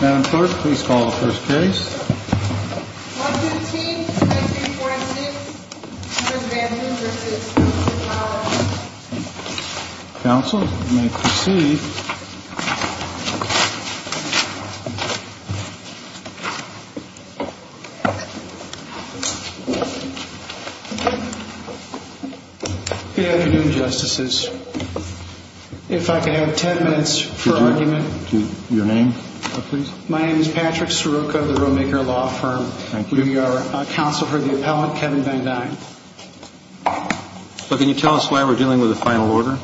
Madam Clerk, please call the first case. 115-9346, Mr. Van Duyn v. Council of Power Council, you may proceed. Good afternoon, Justices. If I could have 10 minutes for argument. Your name, please. My name is Patrick Sirocco of the Role Maker Law Firm. Thank you. We are counsel for the appellant, Kevin Van Duyn. But can you tell us why we're dealing with a final order?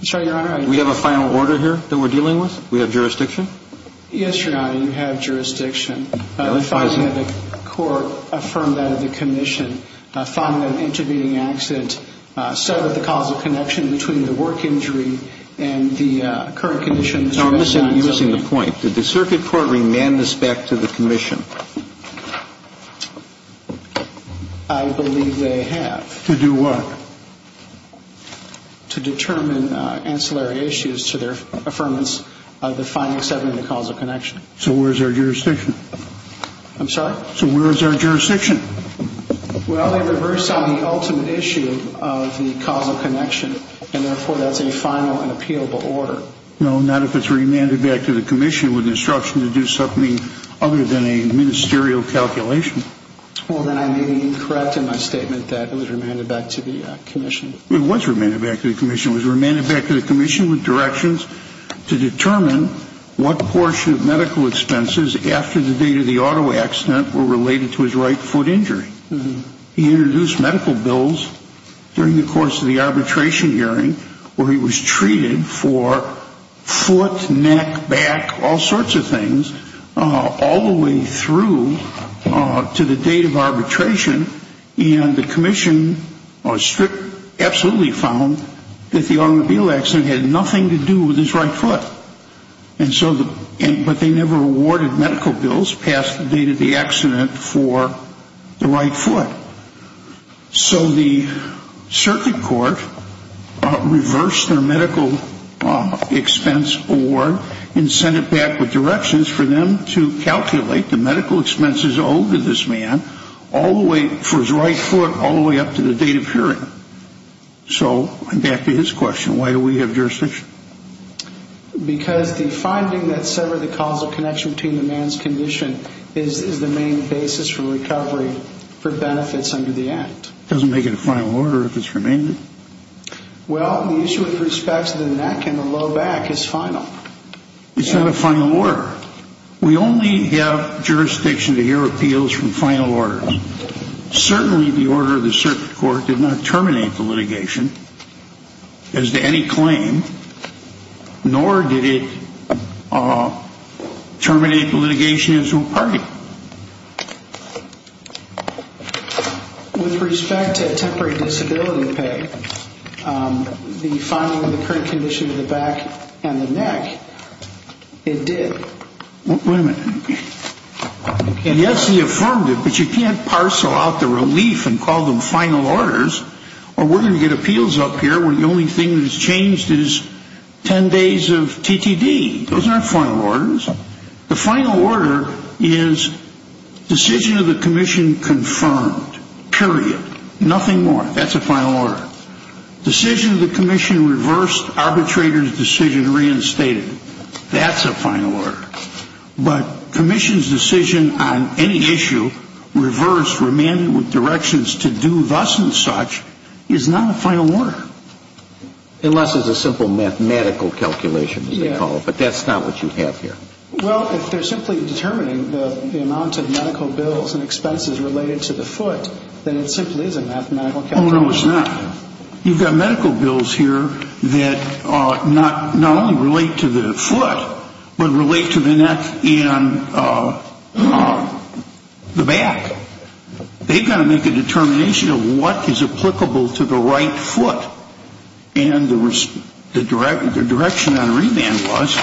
I'm sorry, Your Honor. We have a final order here that we're dealing with? We have jurisdiction? Yes, Your Honor, you have jurisdiction. No, it's not. The court affirmed that at the commission, found an intervening accident, settled the causal connection between the work injury and the current condition, Mr. Van Duyn. No, I'm missing the point. Did the circuit court remand this back to the commission? I believe they have. To do what? To determine ancillary issues to their affirmance of the finding, settling the causal connection. So where is our jurisdiction? I'm sorry? So where is our jurisdiction? Well, they reversed on the ultimate issue of the causal connection, and therefore that's a final and appealable order. No, not if it's remanded back to the commission with instruction to do something other than a ministerial calculation. Well, then I may be incorrect in my statement that it was remanded back to the commission. It was remanded back to the commission. It was remanded back to the commission with directions to determine what portion of medical expenses after the date of the auto accident were related to his right foot injury. He introduced medical bills during the course of the arbitration hearing where he was treated for foot, neck, back, all sorts of things, all the way through to the date of arbitration, and the commission absolutely found that the automobile accident had nothing to do with his right foot, but they never awarded medical bills past the date of the accident for the right foot. So the circuit court reversed their medical expense award and sent it back with directions for them to calculate the medical expenses owed to this man for his right foot all the way up to the date of hearing. So back to his question, why do we have jurisdiction? Because the finding that severed the causal connection between the man's condition is the main basis for recovery for benefits under the Act. It doesn't make it a final order if it's remanded. Well, the issue with respect to the neck and the low back is final. It's not a final order. We only have jurisdiction to hear appeals from final orders. Certainly the order of the circuit court did not terminate the litigation as to any claim, nor did it terminate the litigation as to a party. With respect to temporary disability pay, the filing of the current condition of the back and the neck, it did. Wait a minute. And yes, he affirmed it, but you can't parcel out the relief and call them final orders or we're going to get appeals up here where the only thing that has changed is 10 days of TTD. Those aren't final orders. The final order is decision of the commission confirmed, period, nothing more. That's a final order. Decision of the commission reversed, arbitrator's decision reinstated. That's a final order. But commission's decision on any issue reversed, remanded with directions to do thus and such is not a final order. Unless it's a simple mathematical calculation as they call it, but that's not what you have here. Well, if they're simply determining the amount of medical bills and expenses related to the foot, then it simply is a mathematical calculation. Oh, no, it's not. You've got medical bills here that not only relate to the foot, but relate to the neck and the back. They've got to make a determination of what is applicable to the right foot and the direction on remand was,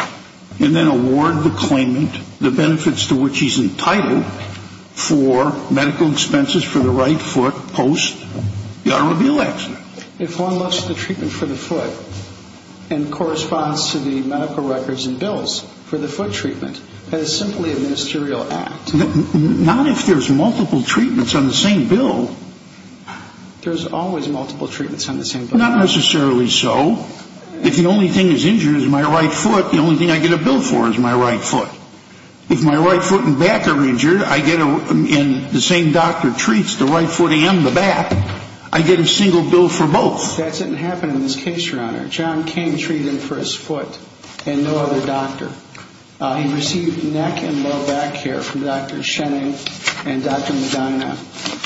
and then award the claimant the benefits to which he's entitled for medical expenses for the right foot post the automobile accident. If one looks at the treatment for the foot and corresponds to the medical records and bills for the foot treatment, that is simply a ministerial act. Not if there's multiple treatments on the same bill. There's always multiple treatments on the same bill. Not necessarily so. If the only thing that's injured is my right foot, the only thing I get a bill for is my right foot. If my right foot and back are injured and the same doctor treats the right foot and the back, I get a single bill for both. That didn't happen in this case, Your Honor. John King treated for his foot and no other doctor. He received neck and low back care from Dr. Shenning and Dr. Medina,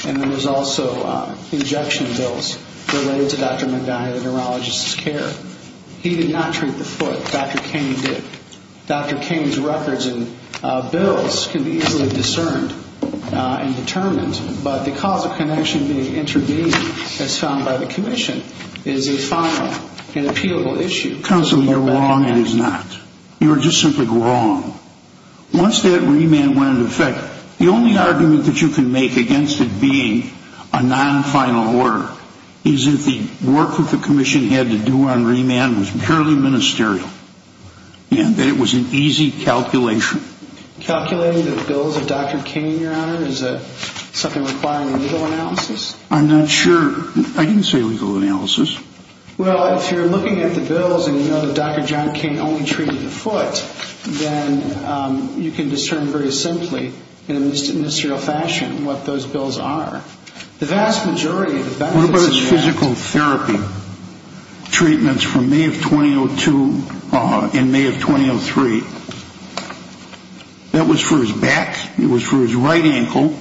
and there was also injection bills related to Dr. Medina, the neurologist's care. He did not treat the foot. Dr. King did. Dr. King's records and bills can be easily discerned and determined, but the cause of connection being intravenous as found by the commission is a final and appealable issue. Counsel, you're wrong it is not. You are just simply wrong. Once that remand went into effect, the only argument that you can make against it being a non-final order is that the work that the commission had to do on remand was purely ministerial and that it was an easy calculation. Calculating the bills of Dr. King, Your Honor, is something requiring legal analysis? I'm not sure. I didn't say legal analysis. Well, if you're looking at the bills and you know that Dr. John King only treated the foot, then you can discern very simply in a ministerial fashion what those bills are. What about his physical therapy treatments from May of 2002 and May of 2003? That was for his back. It was for his right ankle.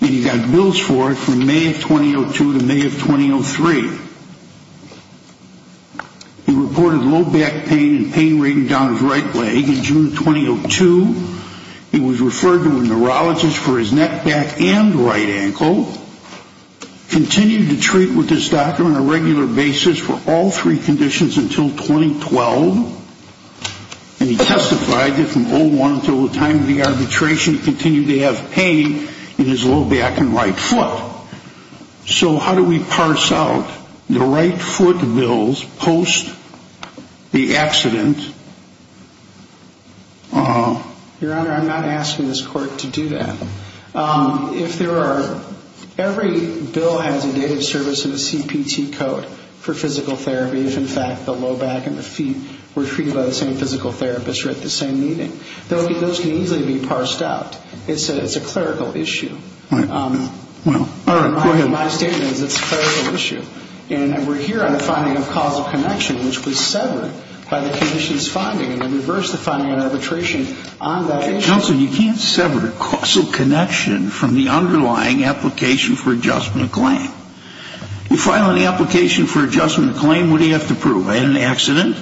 And he got bills for it from May of 2002 to May of 2003. He reported low back pain and pain rating down his right leg in June of 2002. He was referred to a neurologist for his neck, back, and right ankle. Continued to treat with this doctor on a regular basis for all three conditions until 2012. And he testified that from 01 until the time of the arbitration, he continued to have pain in his low back and right foot. So how do we parse out the right foot bills post the accident? Your Honor, I'm not asking this court to do that. If there are ‑‑ every bill has a date of service and a CPT code for physical therapy. If, in fact, the low back and the feet were treated by the same physical therapist or at the same meeting. Those can easily be parsed out. It's a clerical issue. All right, go ahead. My statement is it's a clerical issue. And we're here on the finding of causal connection, which was severed by the condition's finding and reversed the finding of arbitration on that issue. Counsel, you can't sever causal connection from the underlying application for adjustment of claim. You file an application for adjustment of claim, what do you have to prove? I had an accident.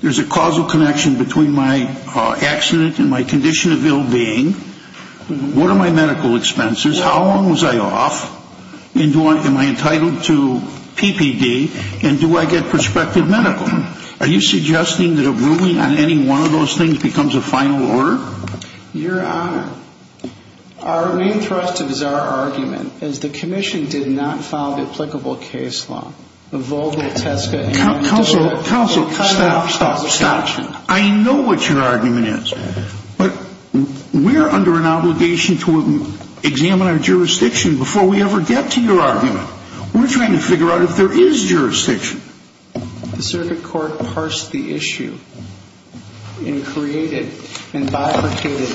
There's a causal connection between my accident and my condition of ill being. What are my medical expenses? How long was I off? And am I entitled to PPD? And do I get prospective medical? Are you suggesting that a ruling on any one of those things becomes a final order? Your Honor, our main thrust is our argument is the commission did not file the applicable case law. The Volga, Tesco, and‑ Counsel, stop, stop, stop. I know what your argument is. But we are under an obligation to examine our jurisdiction before we ever get to your argument. We're trying to figure out if there is jurisdiction. The circuit court parsed the issue and created and bifurcated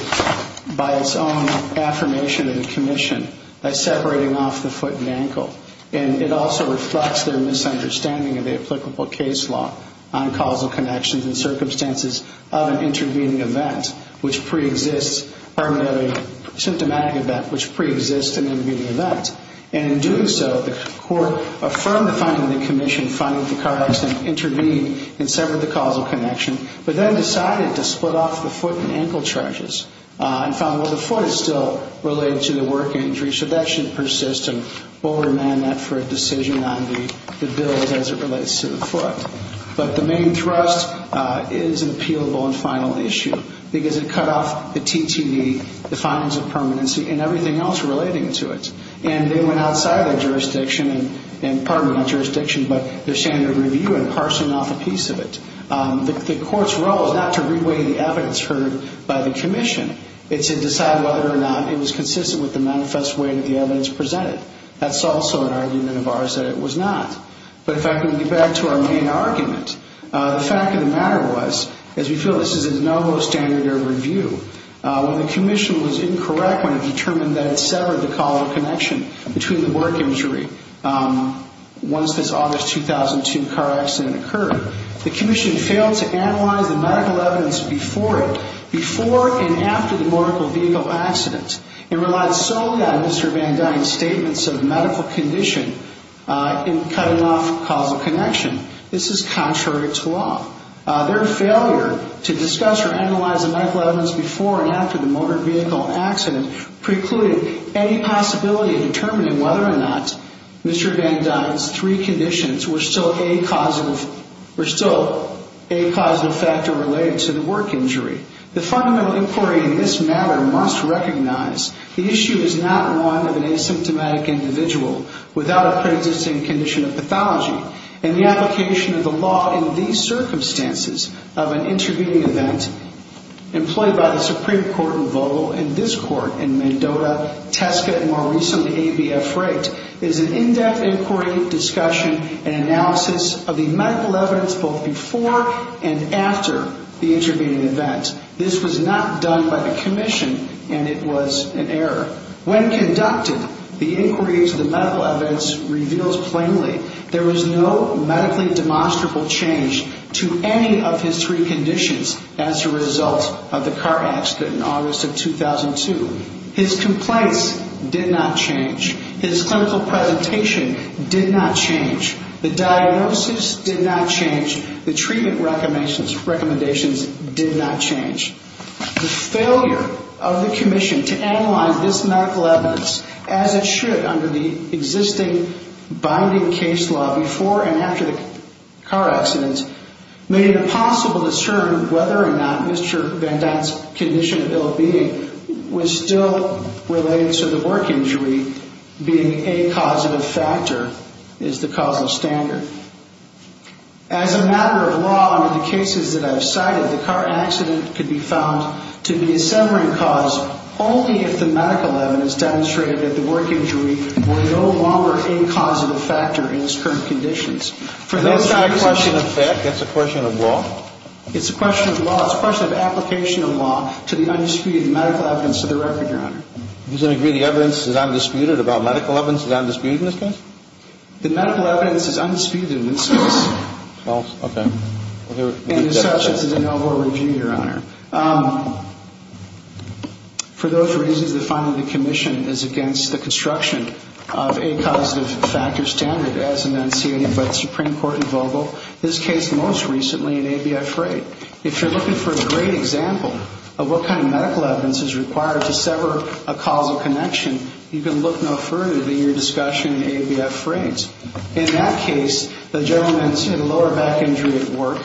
by its own affirmation of the commission by separating off the foot and ankle. And it also reflects their misunderstanding of the applicable case law on causal connections and circumstances of an intervening event, which preexists, pardon me, of a symptomatic event, which preexists an intervening event. And in doing so, the court affirmed the finding of the commission, finding that the car accident intervened and severed the causal connection, but then decided to split off the foot and ankle charges and found, well, the foot is still related to the work injury, so that shouldn't persist and will remain that for a decision on the bills as it relates to the foot. But the main thrust is an appealable and final issue, because it cut off the TTV, the findings of permanency, and everything else relating to it. And they went outside their jurisdiction and, pardon me, not jurisdiction, but their standard review and parsing off a piece of it. The court's role is not to reweigh the evidence heard by the commission. It's to decide whether or not it was consistent with the manifest way that the evidence presented. That's also an argument of ours that it was not. But if I can get back to our main argument, the fact of the matter was, as we feel this is a no-go standard of review, when the commission was incorrect when it determined that it severed the causal connection between the work injury once this August 2002 car accident occurred, the commission failed to analyze the medical evidence before it, before and after the motor vehicle accident. It relied solely on Mr. Van Dyne's statements of medical condition in cutting off causal connection. This is contrary to law. Their failure to discuss or analyze the medical evidence before and after the motor vehicle accident precluded any possibility of determining whether or not Mr. Van Dyne's three conditions were still a causal factor related to the work injury. The fundamental inquiry in this matter must recognize the issue is not one of an asymptomatic individual without a pre-existing condition of pathology, and the application of the law in these circumstances of an intervening event employed by the Supreme Court in Vogel and this Court in Mendota, Tesco, and more recently ABF Wright is an in-depth inquiry, discussion, and analysis of the medical evidence both before and after the intervening event. This was not done by the commission, and it was an error. When conducted, the inquiry into the medical evidence reveals plainly there was no medically demonstrable change to any of his three conditions as a result of the car accident in August of 2002. His complaints did not change. His clinical presentation did not change. The diagnosis did not change. The treatment recommendations did not change. The failure of the commission to analyze this medical evidence as it should under the existing binding case law before and after the car accident made it impossible to discern whether or not Mr. Van Dyne's condition of ill-being was still related to the work injury being a causative factor, is the causal standard. As a matter of law, under the cases that I've cited, the car accident could be found to be a severing cause only if the medical evidence demonstrated that the work injury were no longer a causative factor in his current conditions. That's not a question of fact. That's a question of law. It's a question of law. It's a question of application of law to the undisputed medical evidence of the record, Your Honor. Do you disagree the evidence is undisputed about medical evidence is undisputed in this case? The medical evidence is undisputed in this case. Well, okay. And as such, it's a de novo review, Your Honor. For those reasons, the finding of the commission is against the construction of a causative factor standard as enunciated by the Supreme Court in Vogel, this case most recently in ABI Freight. If you're looking for a great example of what kind of medical evidence is required to sever a causal connection, you can look no further than your discussion in ABI Freight. In that case, the gentleman had a lower back injury at work.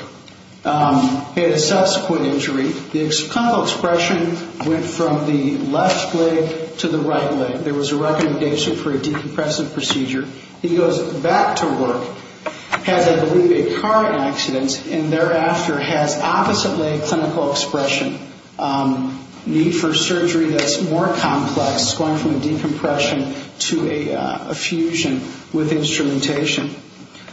He had a subsequent injury. The clinical expression went from the left leg to the right leg. There was a recommendation for a decompressive procedure. He goes back to work, has, I believe, a car accident, and thereafter has opposite leg clinical expression, need for surgery that's more complex, going from a decompression to a fusion with instrumentation.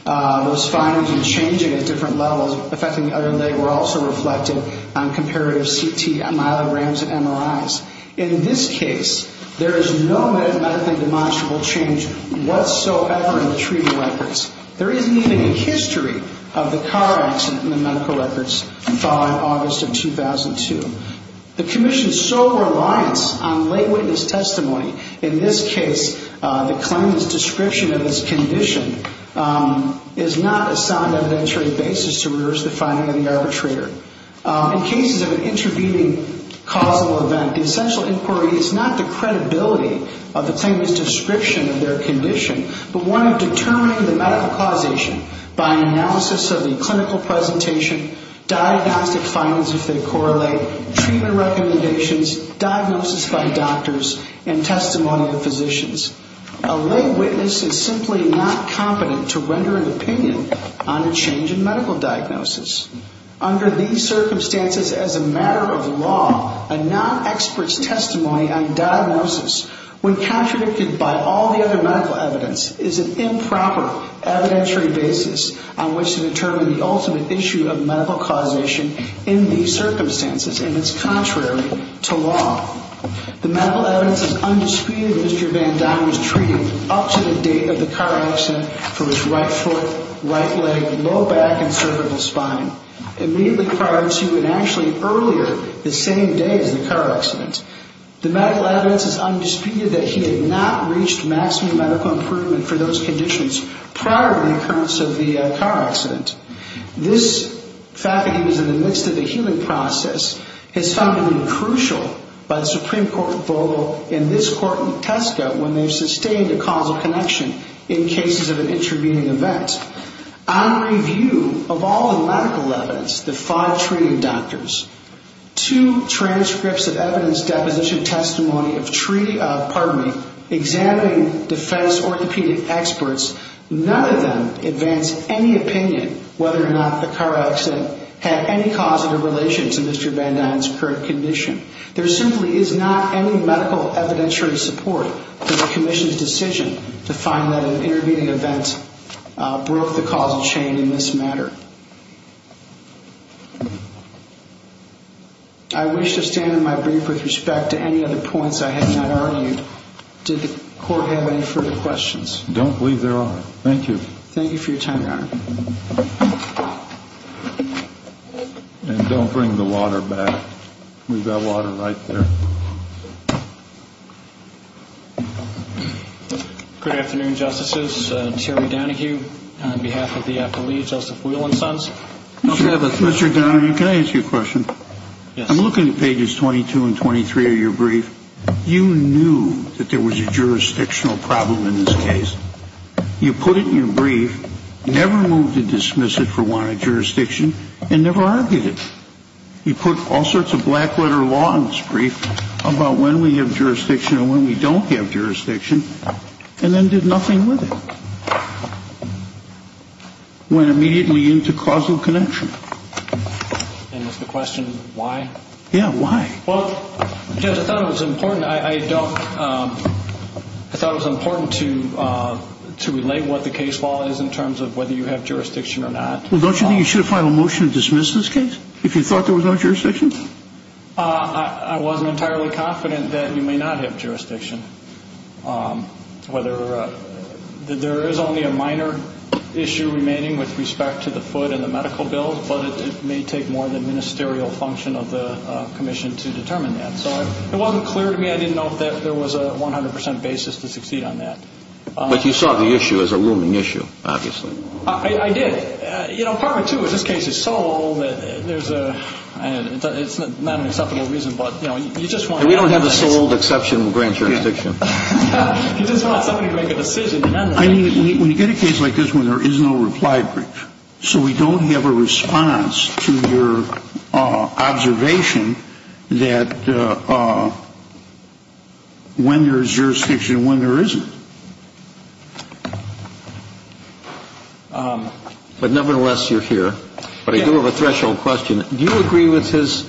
Those findings were changing at different levels, affecting the other leg, were also reflected on comparative CT, myelograms, and MRIs. In this case, there is no medically demonstrable change whatsoever in the treaty records. There isn't even a history of the car accident in the medical records following August of 2002. The Commission's sole reliance on lay witness testimony, in this case, the claimant's description of his condition, is not a sound evidentiary basis to reverse the finding of the arbitrator. In cases of an intervening causal event, the essential inquiry is not the credibility of the claimant's description of their condition, but one of determining the medical causation by analysis of the clinical presentation, diagnostic findings, if they correlate, treatment recommendations, diagnosis by doctors, and testimony of physicians. A lay witness is simply not competent to render an opinion on a change in medical diagnosis. Under these circumstances, as a matter of law, a non-expert's testimony on diagnosis, when contradicted by all the other medical evidence, is an improper evidentiary basis on which to determine the ultimate issue of medical causation in these circumstances, and it's contrary to law. The medical evidence is undisputed that Mr. Vandana was treated up to the date of the car accident for his right foot, right leg, low back, and cervical spine. Immediately prior to, and actually earlier, the same day as the car accident. The medical evidence is undisputed that he had not reached maximum medical improvement for those conditions prior to the occurrence of the car accident. This fact that he was in the midst of a healing process has found to be crucial by the Supreme Court's vote in this court in Tesco when they've sustained a causal connection in cases of an intervening event. On review of all the medical evidence, the five treating doctors, two transcripts of evidence deposition testimony of treating, pardon me, examining defense orthopedic experts, none of them advance any opinion whether or not the car accident had any causative relation to Mr. Vandana's current condition. There simply is not any medical evidentiary support for the commission's decision to find that an intervening event broke the causal chain in this matter. I wish to stand in my brief with respect to any other points I had not argued. Did the court have any further questions? I don't believe there are. Thank you. Thank you for your time, Your Honor. And don't bring the water back. We've got water right there. Good afternoon, Justices. Terry Donohue on behalf of the affilee, Joseph Whelan Sons. Mr. Donohue, can I ask you a question? Yes. I'm looking at pages 22 and 23 of your brief. You knew that there was a jurisdictional problem in this case. You put it in your brief, never moved to dismiss it for wanted jurisdiction, and never argued it. You put all sorts of black-letter law in this brief about when we have jurisdiction or when we don't have jurisdiction, and then did nothing with it. Went immediately into causal connection. And is the question why? Yeah, why? Well, Judge, I thought it was important. I thought it was important to relate what the case law is in terms of whether you have jurisdiction or not. Well, don't you think you should have filed a motion to dismiss this case if you thought there was no jurisdiction? I wasn't entirely confident that you may not have jurisdiction. There is only a minor issue remaining with respect to the foot in the medical bill, but it may take more than ministerial function of the commission to determine that. So it wasn't clear to me. I didn't know if there was a 100 percent basis to succeed on that. But you saw the issue as a looming issue, obviously. I did. You know, part of it, too, is this case is so old that there's a ñ it's not an acceptable reason, but, you know, you just want to have that. And we don't have a so-old exception with grand jurisdiction. Yeah. You just want somebody to make a decision. I mean, when you get a case like this one, there is no reply brief. So we don't have a response to your observation that when there is jurisdiction and when there isn't. But nevertheless, you're here. But I do have a threshold question. Do you agree with his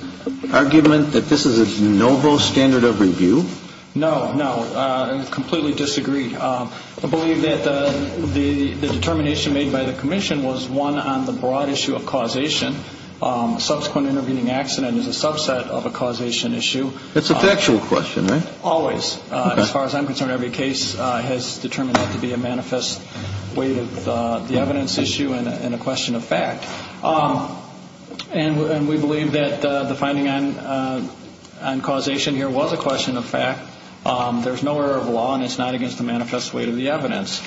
argument that this is a de novo standard of review? No, no. I completely disagree. I believe that the determination made by the commission was one on the broad issue of causation. Subsequent intervening accident is a subset of a causation issue. That's a factual question, right? Always. As far as I'm concerned, every case has determined that to be a manifest way of the evidence issue and a question of fact. And we believe that the finding on causation here was a question of fact. There is no error of law, and it's not against the manifest way of the evidence.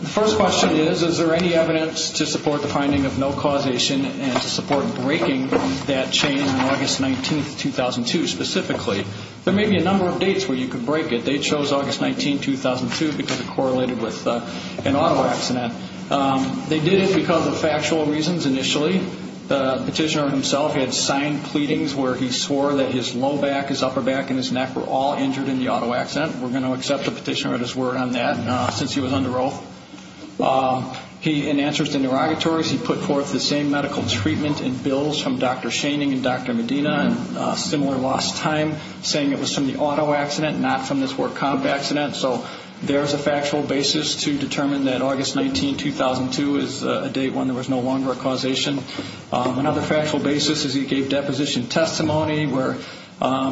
The first question is, is there any evidence to support the finding of no causation and to support breaking that chain on August 19, 2002, specifically? There may be a number of dates where you could break it. They chose August 19, 2002 because it correlated with an auto accident. They did it because of factual reasons initially. The petitioner himself had signed pleadings where he swore that his low back, his upper back, and his neck were all injured in the auto accident. We're going to accept the petitioner at his word on that since he was under oath. In answers to interrogatories, he put forth the same medical treatment and bills from Dr. Schoening and Dr. Medina in a similar lost time, saying it was from the auto accident, not from this work comp accident. So there is a factual basis to determine that August 19, 2002 is a date when there was no longer a causation. Another factual basis is he gave deposition testimony where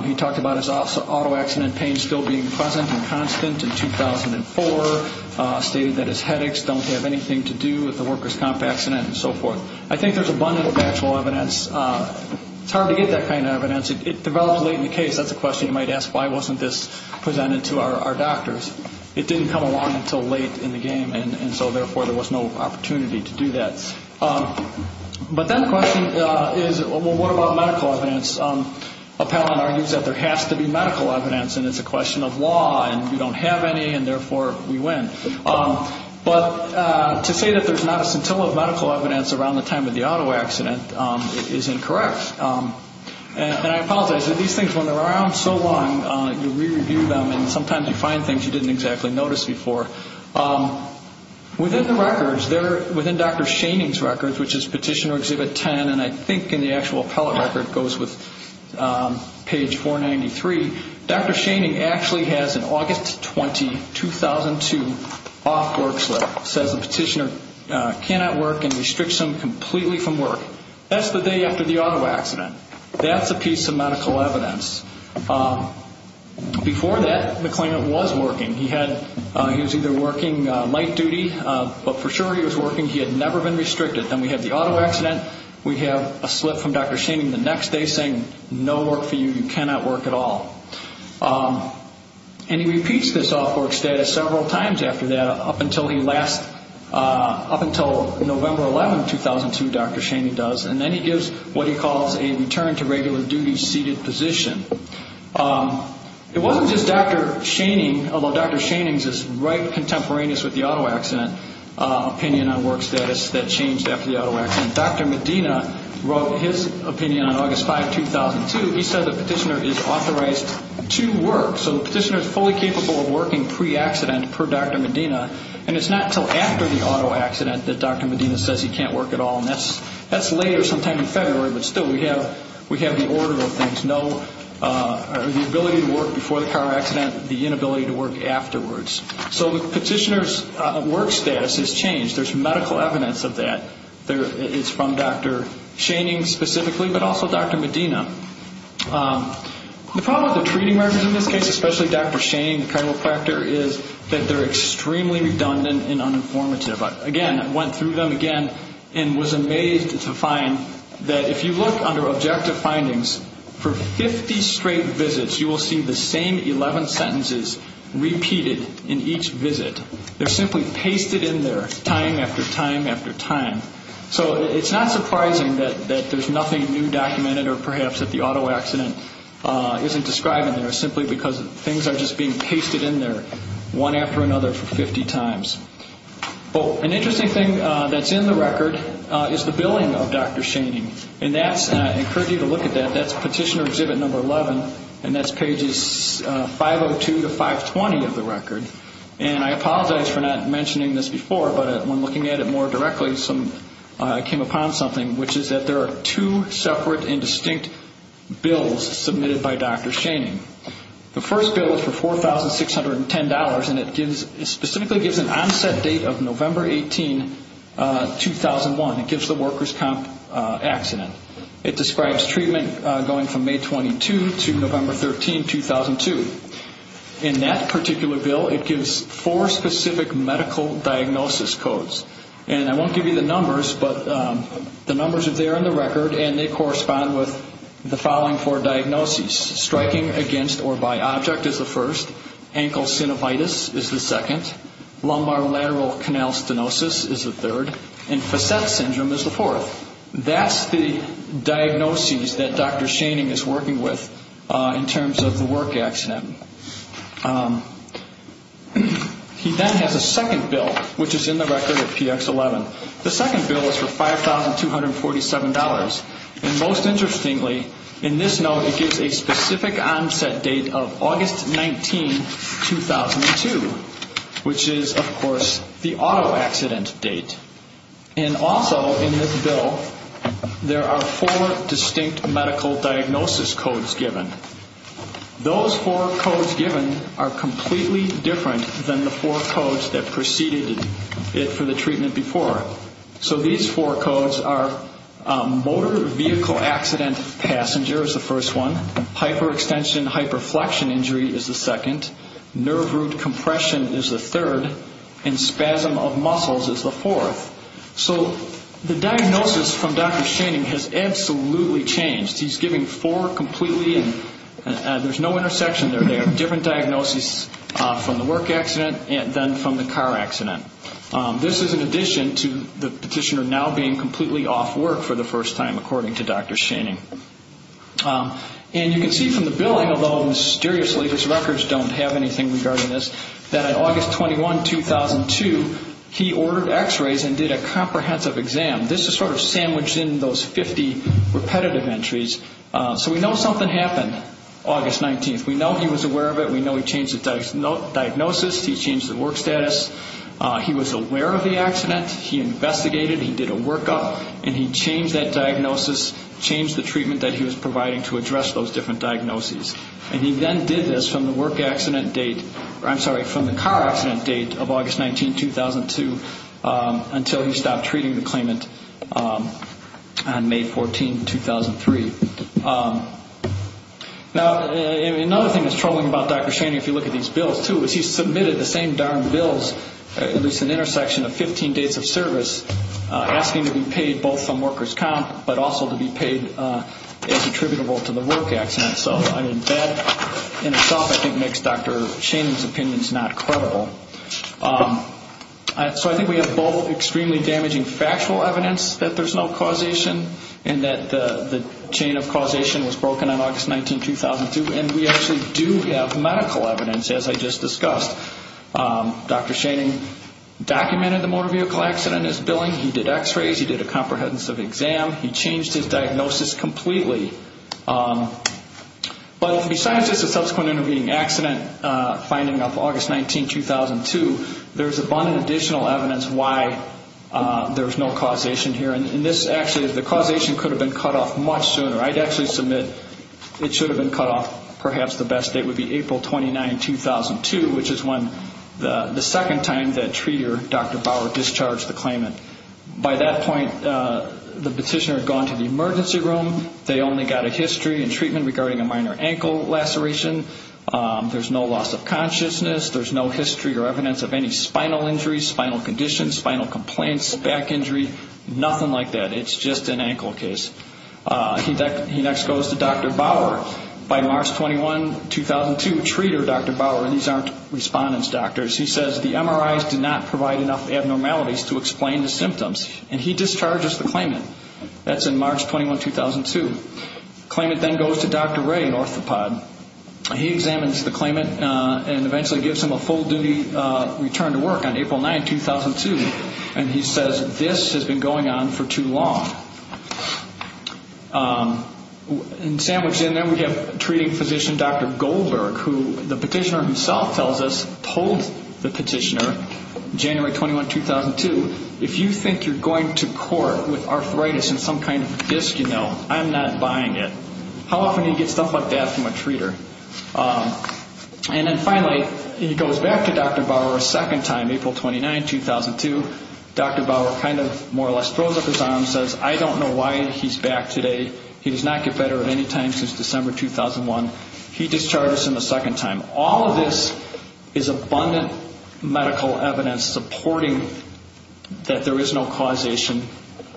he talked about his auto accident pain still being present and constant in 2004, stated that his headaches don't have anything to do with the workers' comp accident, and so forth. I think there's abundant factual evidence. It's hard to get that kind of evidence. It develops late in the case. That's a question you might ask, why wasn't this presented to our doctors? It didn't come along until late in the game, and so therefore there was no opportunity to do that. But then the question is, well, what about medical evidence? Appellant argues that there has to be medical evidence, and it's a question of law, and we don't have any, and therefore we win. But to say that there's not a scintilla of medical evidence around the time of the auto accident is incorrect. And I apologize. These things, when they're around so long, you re-review them, and sometimes you find things you didn't exactly notice before. Within the records, within Dr. Schoening's records, which is Petitioner Exhibit 10, and I think in the actual appellate record it goes with page 493, Dr. Schoening actually has an August 20, 2002 off work slip. It says the petitioner cannot work and restricts him completely from work. That's the day after the auto accident. That's a piece of medical evidence. Before that, the claimant was working. He was either working light duty, but for sure he was working. He had never been restricted. Then we have the auto accident. We have a slip from Dr. Schoening the next day saying no work for you. You cannot work at all. And he repeats this off work status several times after that up until he last, up until November 11, 2002, Dr. Schoening does, and then he gives what he calls a return to regular duty seated position. It wasn't just Dr. Schoening, although Dr. Schoening's is right contemporaneous with the auto accident, opinion on work status that changed after the auto accident. Dr. Medina wrote his opinion on August 5, 2002. He said the petitioner is authorized to work. So the petitioner is fully capable of working pre-accident per Dr. Medina, and it's not until after the auto accident that Dr. Medina says he can't work at all, and that's later sometime in February, but still we have the order of things, the ability to work before the car accident, the inability to work afterwards. So the petitioner's work status has changed. There's medical evidence of that. It's from Dr. Schoening specifically, but also Dr. Medina. The problem with the treating records in this case, especially Dr. Schoening, the criminal factor, is that they're extremely redundant and uninformative. Again, I went through them again and was amazed to find that if you look under objective findings, for 50 straight visits you will see the same 11 sentences repeated in each visit. They're simply pasted in there time after time after time. So it's not surprising that there's nothing new documented simply because things are just being pasted in there one after another for 50 times. An interesting thing that's in the record is the billing of Dr. Schoening, and I encourage you to look at that. That's Petitioner Exhibit Number 11, and that's pages 502 to 520 of the record. And I apologize for not mentioning this before, but when looking at it more directly, I came upon something, which is that there are two separate and distinct bills submitted by Dr. Schoening. The first bill is for $4,610, and it specifically gives an onset date of November 18, 2001. It gives the workers' comp accident. It describes treatment going from May 22 to November 13, 2002. In that particular bill, it gives four specific medical diagnosis codes, and I won't give you the numbers, but the numbers are there in the record, and they correspond with the following four diagnoses. Striking against or by object is the first. Ankle synovitis is the second. Lumbar lateral canal stenosis is the third. And facet syndrome is the fourth. That's the diagnoses that Dr. Schoening is working with in terms of the work accident. He then has a second bill, which is in the record of PX11. The second bill is for $5,247, and most interestingly, in this note, it gives a specific onset date of August 19, 2002, which is, of course, the auto accident date. And also in this bill, there are four distinct medical diagnosis codes given. Those four codes given are completely different than the four codes that preceded it for the treatment before. So these four codes are motor vehicle accident, passenger is the first one, hyperextension, hyperflexion injury is the second, nerve root compression is the third, and spasm of muscles is the fourth. So the diagnosis from Dr. Schoening has absolutely changed. He's giving four completely, and there's no intersection there. They are different diagnoses from the work accident than from the car accident. This is in addition to the petitioner now being completely off work for the first time, according to Dr. Schoening. And you can see from the billing, although mysteriously his records don't have anything regarding this, that on August 21, 2002, he ordered x-rays and did a comprehensive exam. This is sort of sandwiched in those 50 repetitive entries. So we know something happened August 19th. We know he was aware of it. We know he changed the diagnosis. He changed the work status. He was aware of the accident. He investigated. He did a workup, and he changed that diagnosis, changed the treatment that he was providing to address those different diagnoses. And he then did this from the work accident date or, I'm sorry, from the car accident date of August 19, 2002 until he stopped treating the claimant on May 14, 2003. Now, another thing that's troubling about Dr. Schoening, if you look at these bills, too, is he submitted the same darn bills, at least an intersection of 15 days of service, asking to be paid both from workers' comp, but also to be paid as attributable to the work accident. So that in itself, I think, makes Dr. Schoening's opinions not credible. So I think we have both extremely damaging factual evidence that there's no causation and that the chain of causation was broken on August 19, 2002. And we actually do have medical evidence, as I just discussed. Dr. Schoening documented the motor vehicle accident in his billing. He did x-rays. He did a comprehensive exam. He changed his diagnosis completely. But besides just a subsequent intervening accident finding of August 19, 2002, there's abundant additional evidence why there's no causation here. And this actually is the causation could have been cut off much sooner. I'd actually submit it should have been cut off. Perhaps the best date would be April 29, 2002, which is when the second time that treater, Dr. Bauer, discharged the claimant. By that point, the petitioner had gone to the emergency room. They only got a history and treatment regarding a minor ankle laceration. There's no loss of consciousness. There's no history or evidence of any spinal injuries, spinal conditions, spinal complaints, back injury, nothing like that. It's just an ankle case. He next goes to Dr. Bauer. By March 21, 2002, treater, Dr. Bauer, and these aren't respondents, doctors, he says the MRIs did not provide enough abnormalities to explain the symptoms. And he discharges the claimant. That's in March 21, 2002. The claimant then goes to Dr. Ray Orthopod. He examines the claimant and eventually gives him a full-duty return to work on April 9, 2002. And he says this has been going on for too long. And sandwiched in there we have treating physician, Dr. Goldberg, who the petitioner himself tells us told the petitioner, January 21, 2002, if you think you're going to court with arthritis and some kind of disc, you know, I'm not buying it. How often do you get stuff like that from a treater? And then finally he goes back to Dr. Bauer a second time, April 29, 2002. Dr. Bauer kind of more or less throws up his arms, says I don't know why he's back today. He does not get better at any time since December 2001. He discharges him a second time. All of this is abundant medical evidence supporting that there is no causation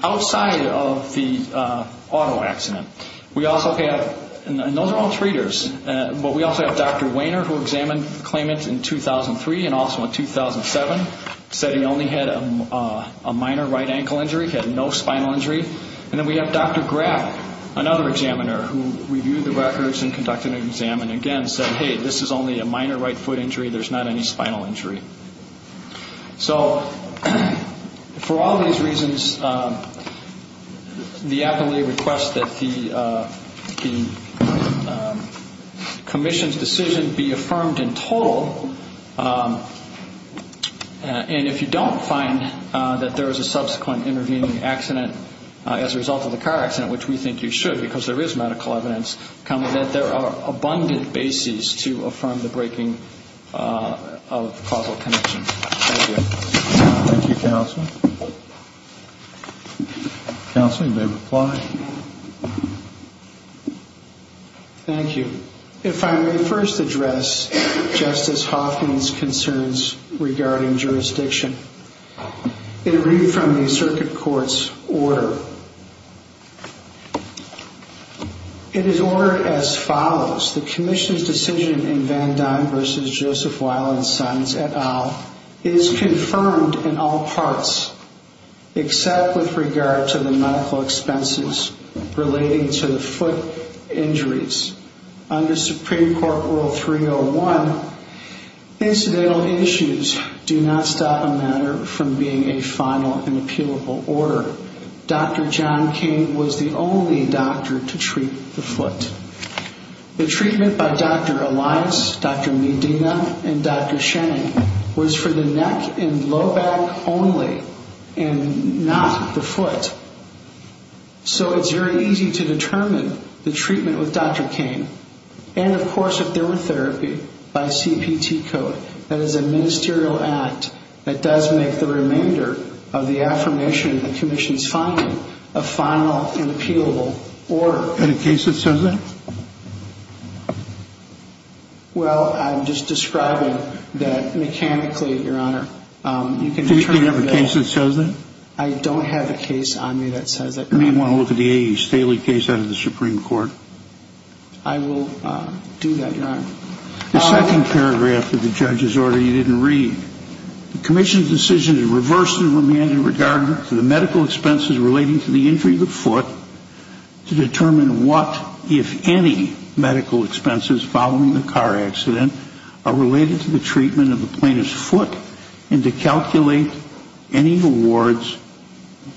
outside of the auto accident. We also have, and those are all treaters, but we also have Dr. Wainer who examined the claimant in 2003 and also in 2007, said he only had a minor right ankle injury, had no spinal injury. And then we have Dr. Graf, another examiner, who reviewed the records and conducted an exam and again said, hey, this is only a minor right foot injury. There's not any spinal injury. So for all these reasons, the appellee requests that the commission's decision be affirmed in total. And if you don't find that there is a subsequent intervening accident as a result of the car accident, which we think you should because there is medical evidence, comment that there are abundant bases to affirm the breaking of causal connection. Thank you. Thank you, counsel. Counsel, you may reply. Thank you. If I may first address Justice Hoffman's concerns regarding jurisdiction. It read from the circuit court's order. It is ordered as follows. The commission's decision in Van Duyn versus Joseph Weil and Sons et al. is confirmed in all parts except with regard to the medical expenses relating to the foot injuries. Under Supreme Court Rule 301, incidental issues do not stop a matter from being a final and appealable order. Dr. John King was the only doctor to treat the foot. The treatment by Dr. Elias, Dr. Medina, and Dr. Shenning was for the neck and low back only and not the foot. So it's very easy to determine the treatment with Dr. King. And, of course, if there were therapy by CPT code, that is a ministerial act that does make the remainder of the affirmation of the commission's finding a final and appealable order. Is there a case that shows that? Well, I'm just describing that mechanically, Your Honor. Do you have a case that shows that? I don't have a case on me that says that, Your Honor. You may want to look at the A.E. Staley case out of the Supreme Court. I will do that, Your Honor. The second paragraph of the judge's order you didn't read, the commission's decision to reverse the remainder in regard to the medical expenses relating to the injury of the foot to determine what, if any, medical expenses following the car accident are related to the treatment of the plaintiff's foot and to calculate any awards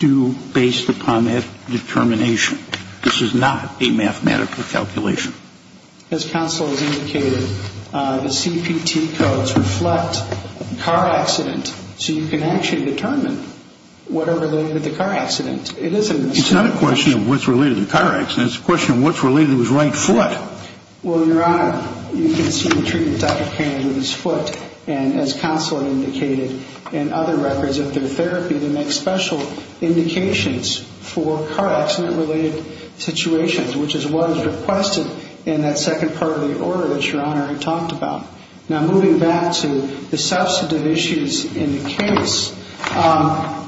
due based upon that determination. This is not a mathematical calculation. As counsel has indicated, the CPT codes reflect the car accident, so you can actually determine what are related to the car accident. It's not a question of what's related to the car accident. It's a question of what's related to his right foot. Well, Your Honor, you can see the treatment of Dr. Kane and his foot, and as counsel indicated, and other records of their therapy, they make special indications for car accident-related situations, which is what is requested in that second part of the order that Your Honor had talked about. Now, moving back to the substantive issues in the case,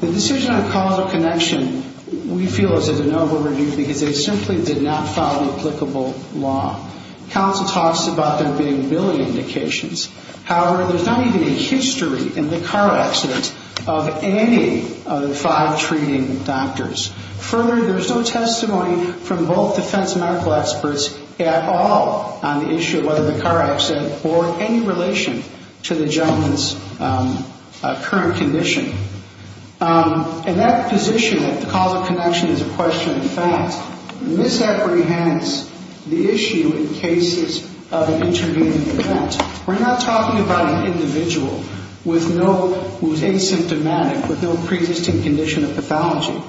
the decision on causal connection we feel is a de novo review because they simply did not follow applicable law. Counsel talks about them being billing indications. However, there's not even a history in the car accident of any of the five treating doctors. Further, there's no testimony from both defense medical experts at all on the issue of whether the car accident bore any relation to the gentleman's current condition. And that position that the causal connection is a question of fact misapprehends the issue in cases of an intervening event. We're not talking about an individual who's asymptomatic, with no preexisting condition of pathology.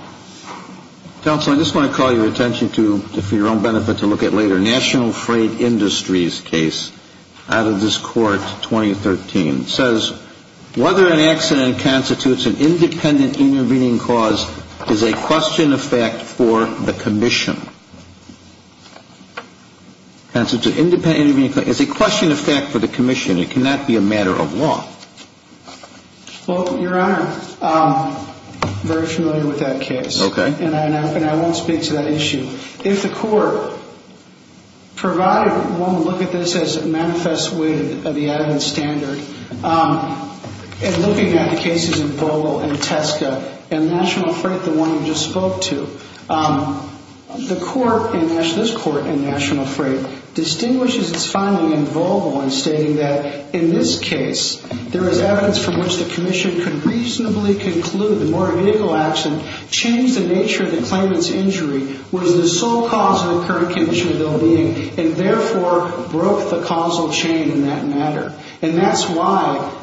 Counsel, I just want to call your attention to, for your own benefit to look at later, National Freight Industries case out of this court, 2013. It says, whether an accident constitutes an independent intervening cause is a question of fact for the commission. It's a question of fact for the commission. It cannot be a matter of law. Well, Your Honor, I'm very familiar with that case. And I won't speak to that issue. If the court provided one look at this as it manifests with the evidence standard, and looking at the cases of Volvo and Tesco and National Freight, the one you just spoke to, the court, this court in National Freight, distinguishes its finding in Volvo in stating that, in this case, there is evidence from which the commission could reasonably conclude that the motor vehicle accident changed the nature of the claimant's injury, was the sole cause of the current condition of their being, and therefore broke the causal chain in that matter. And that's why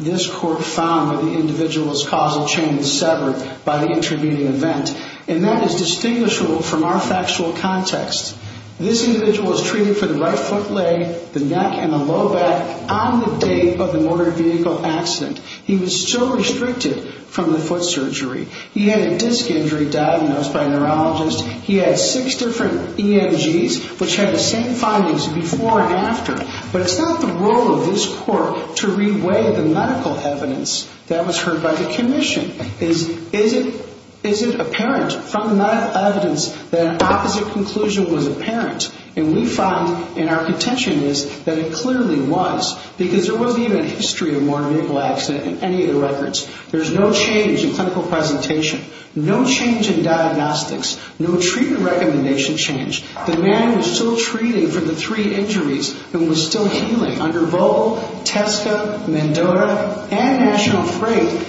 this court found that the individual's causal chain was severed by the intervening event. And that is distinguishable from our factual context. This individual was treated for the right foot leg, the neck, and the low back on the date of the motor vehicle accident. He was still restricted from the foot surgery. He had a disc injury diagnosed by a neurologist. He had six different EMGs, which had the same findings before and after. But it's not the role of this court to re-weigh the medical evidence that was heard by the commission. Is it apparent from the medical evidence that an opposite conclusion was apparent? And we find, and our contention is, that it clearly was. Because there wasn't even a history of a motor vehicle accident in any of the records. There's no change in clinical presentation. No change in diagnostics. No treatment recommendation change. The man was still treated for the three injuries and was still healing under Vole, Tesco, Mendoza, and National Freight.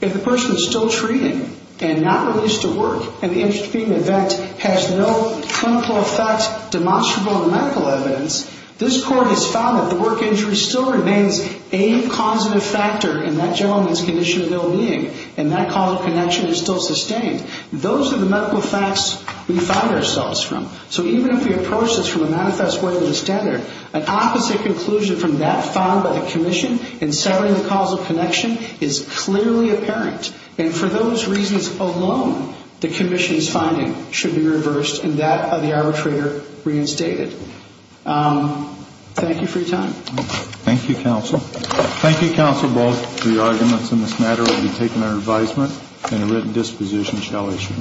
If the person is still treated and not released to work, and the intervening event has no clinical effect demonstrable in medical evidence, this court has found that the work injury still remains a causative factor in that gentleman's condition of ill-being, and that causal connection is still sustained. Those are the medical facts we find ourselves from. So even if we approach this from a manifest way that is standard, an opposite conclusion from that found by the commission in severing the causal connection is clearly apparent. And for those reasons alone, the commission's finding should be reversed and that of the arbitrator reinstated. Thank you for your time. Thank you, counsel. Thank you, counsel, both for your arguments in this matter. It will be taken under advisement and a written disposition shall issue.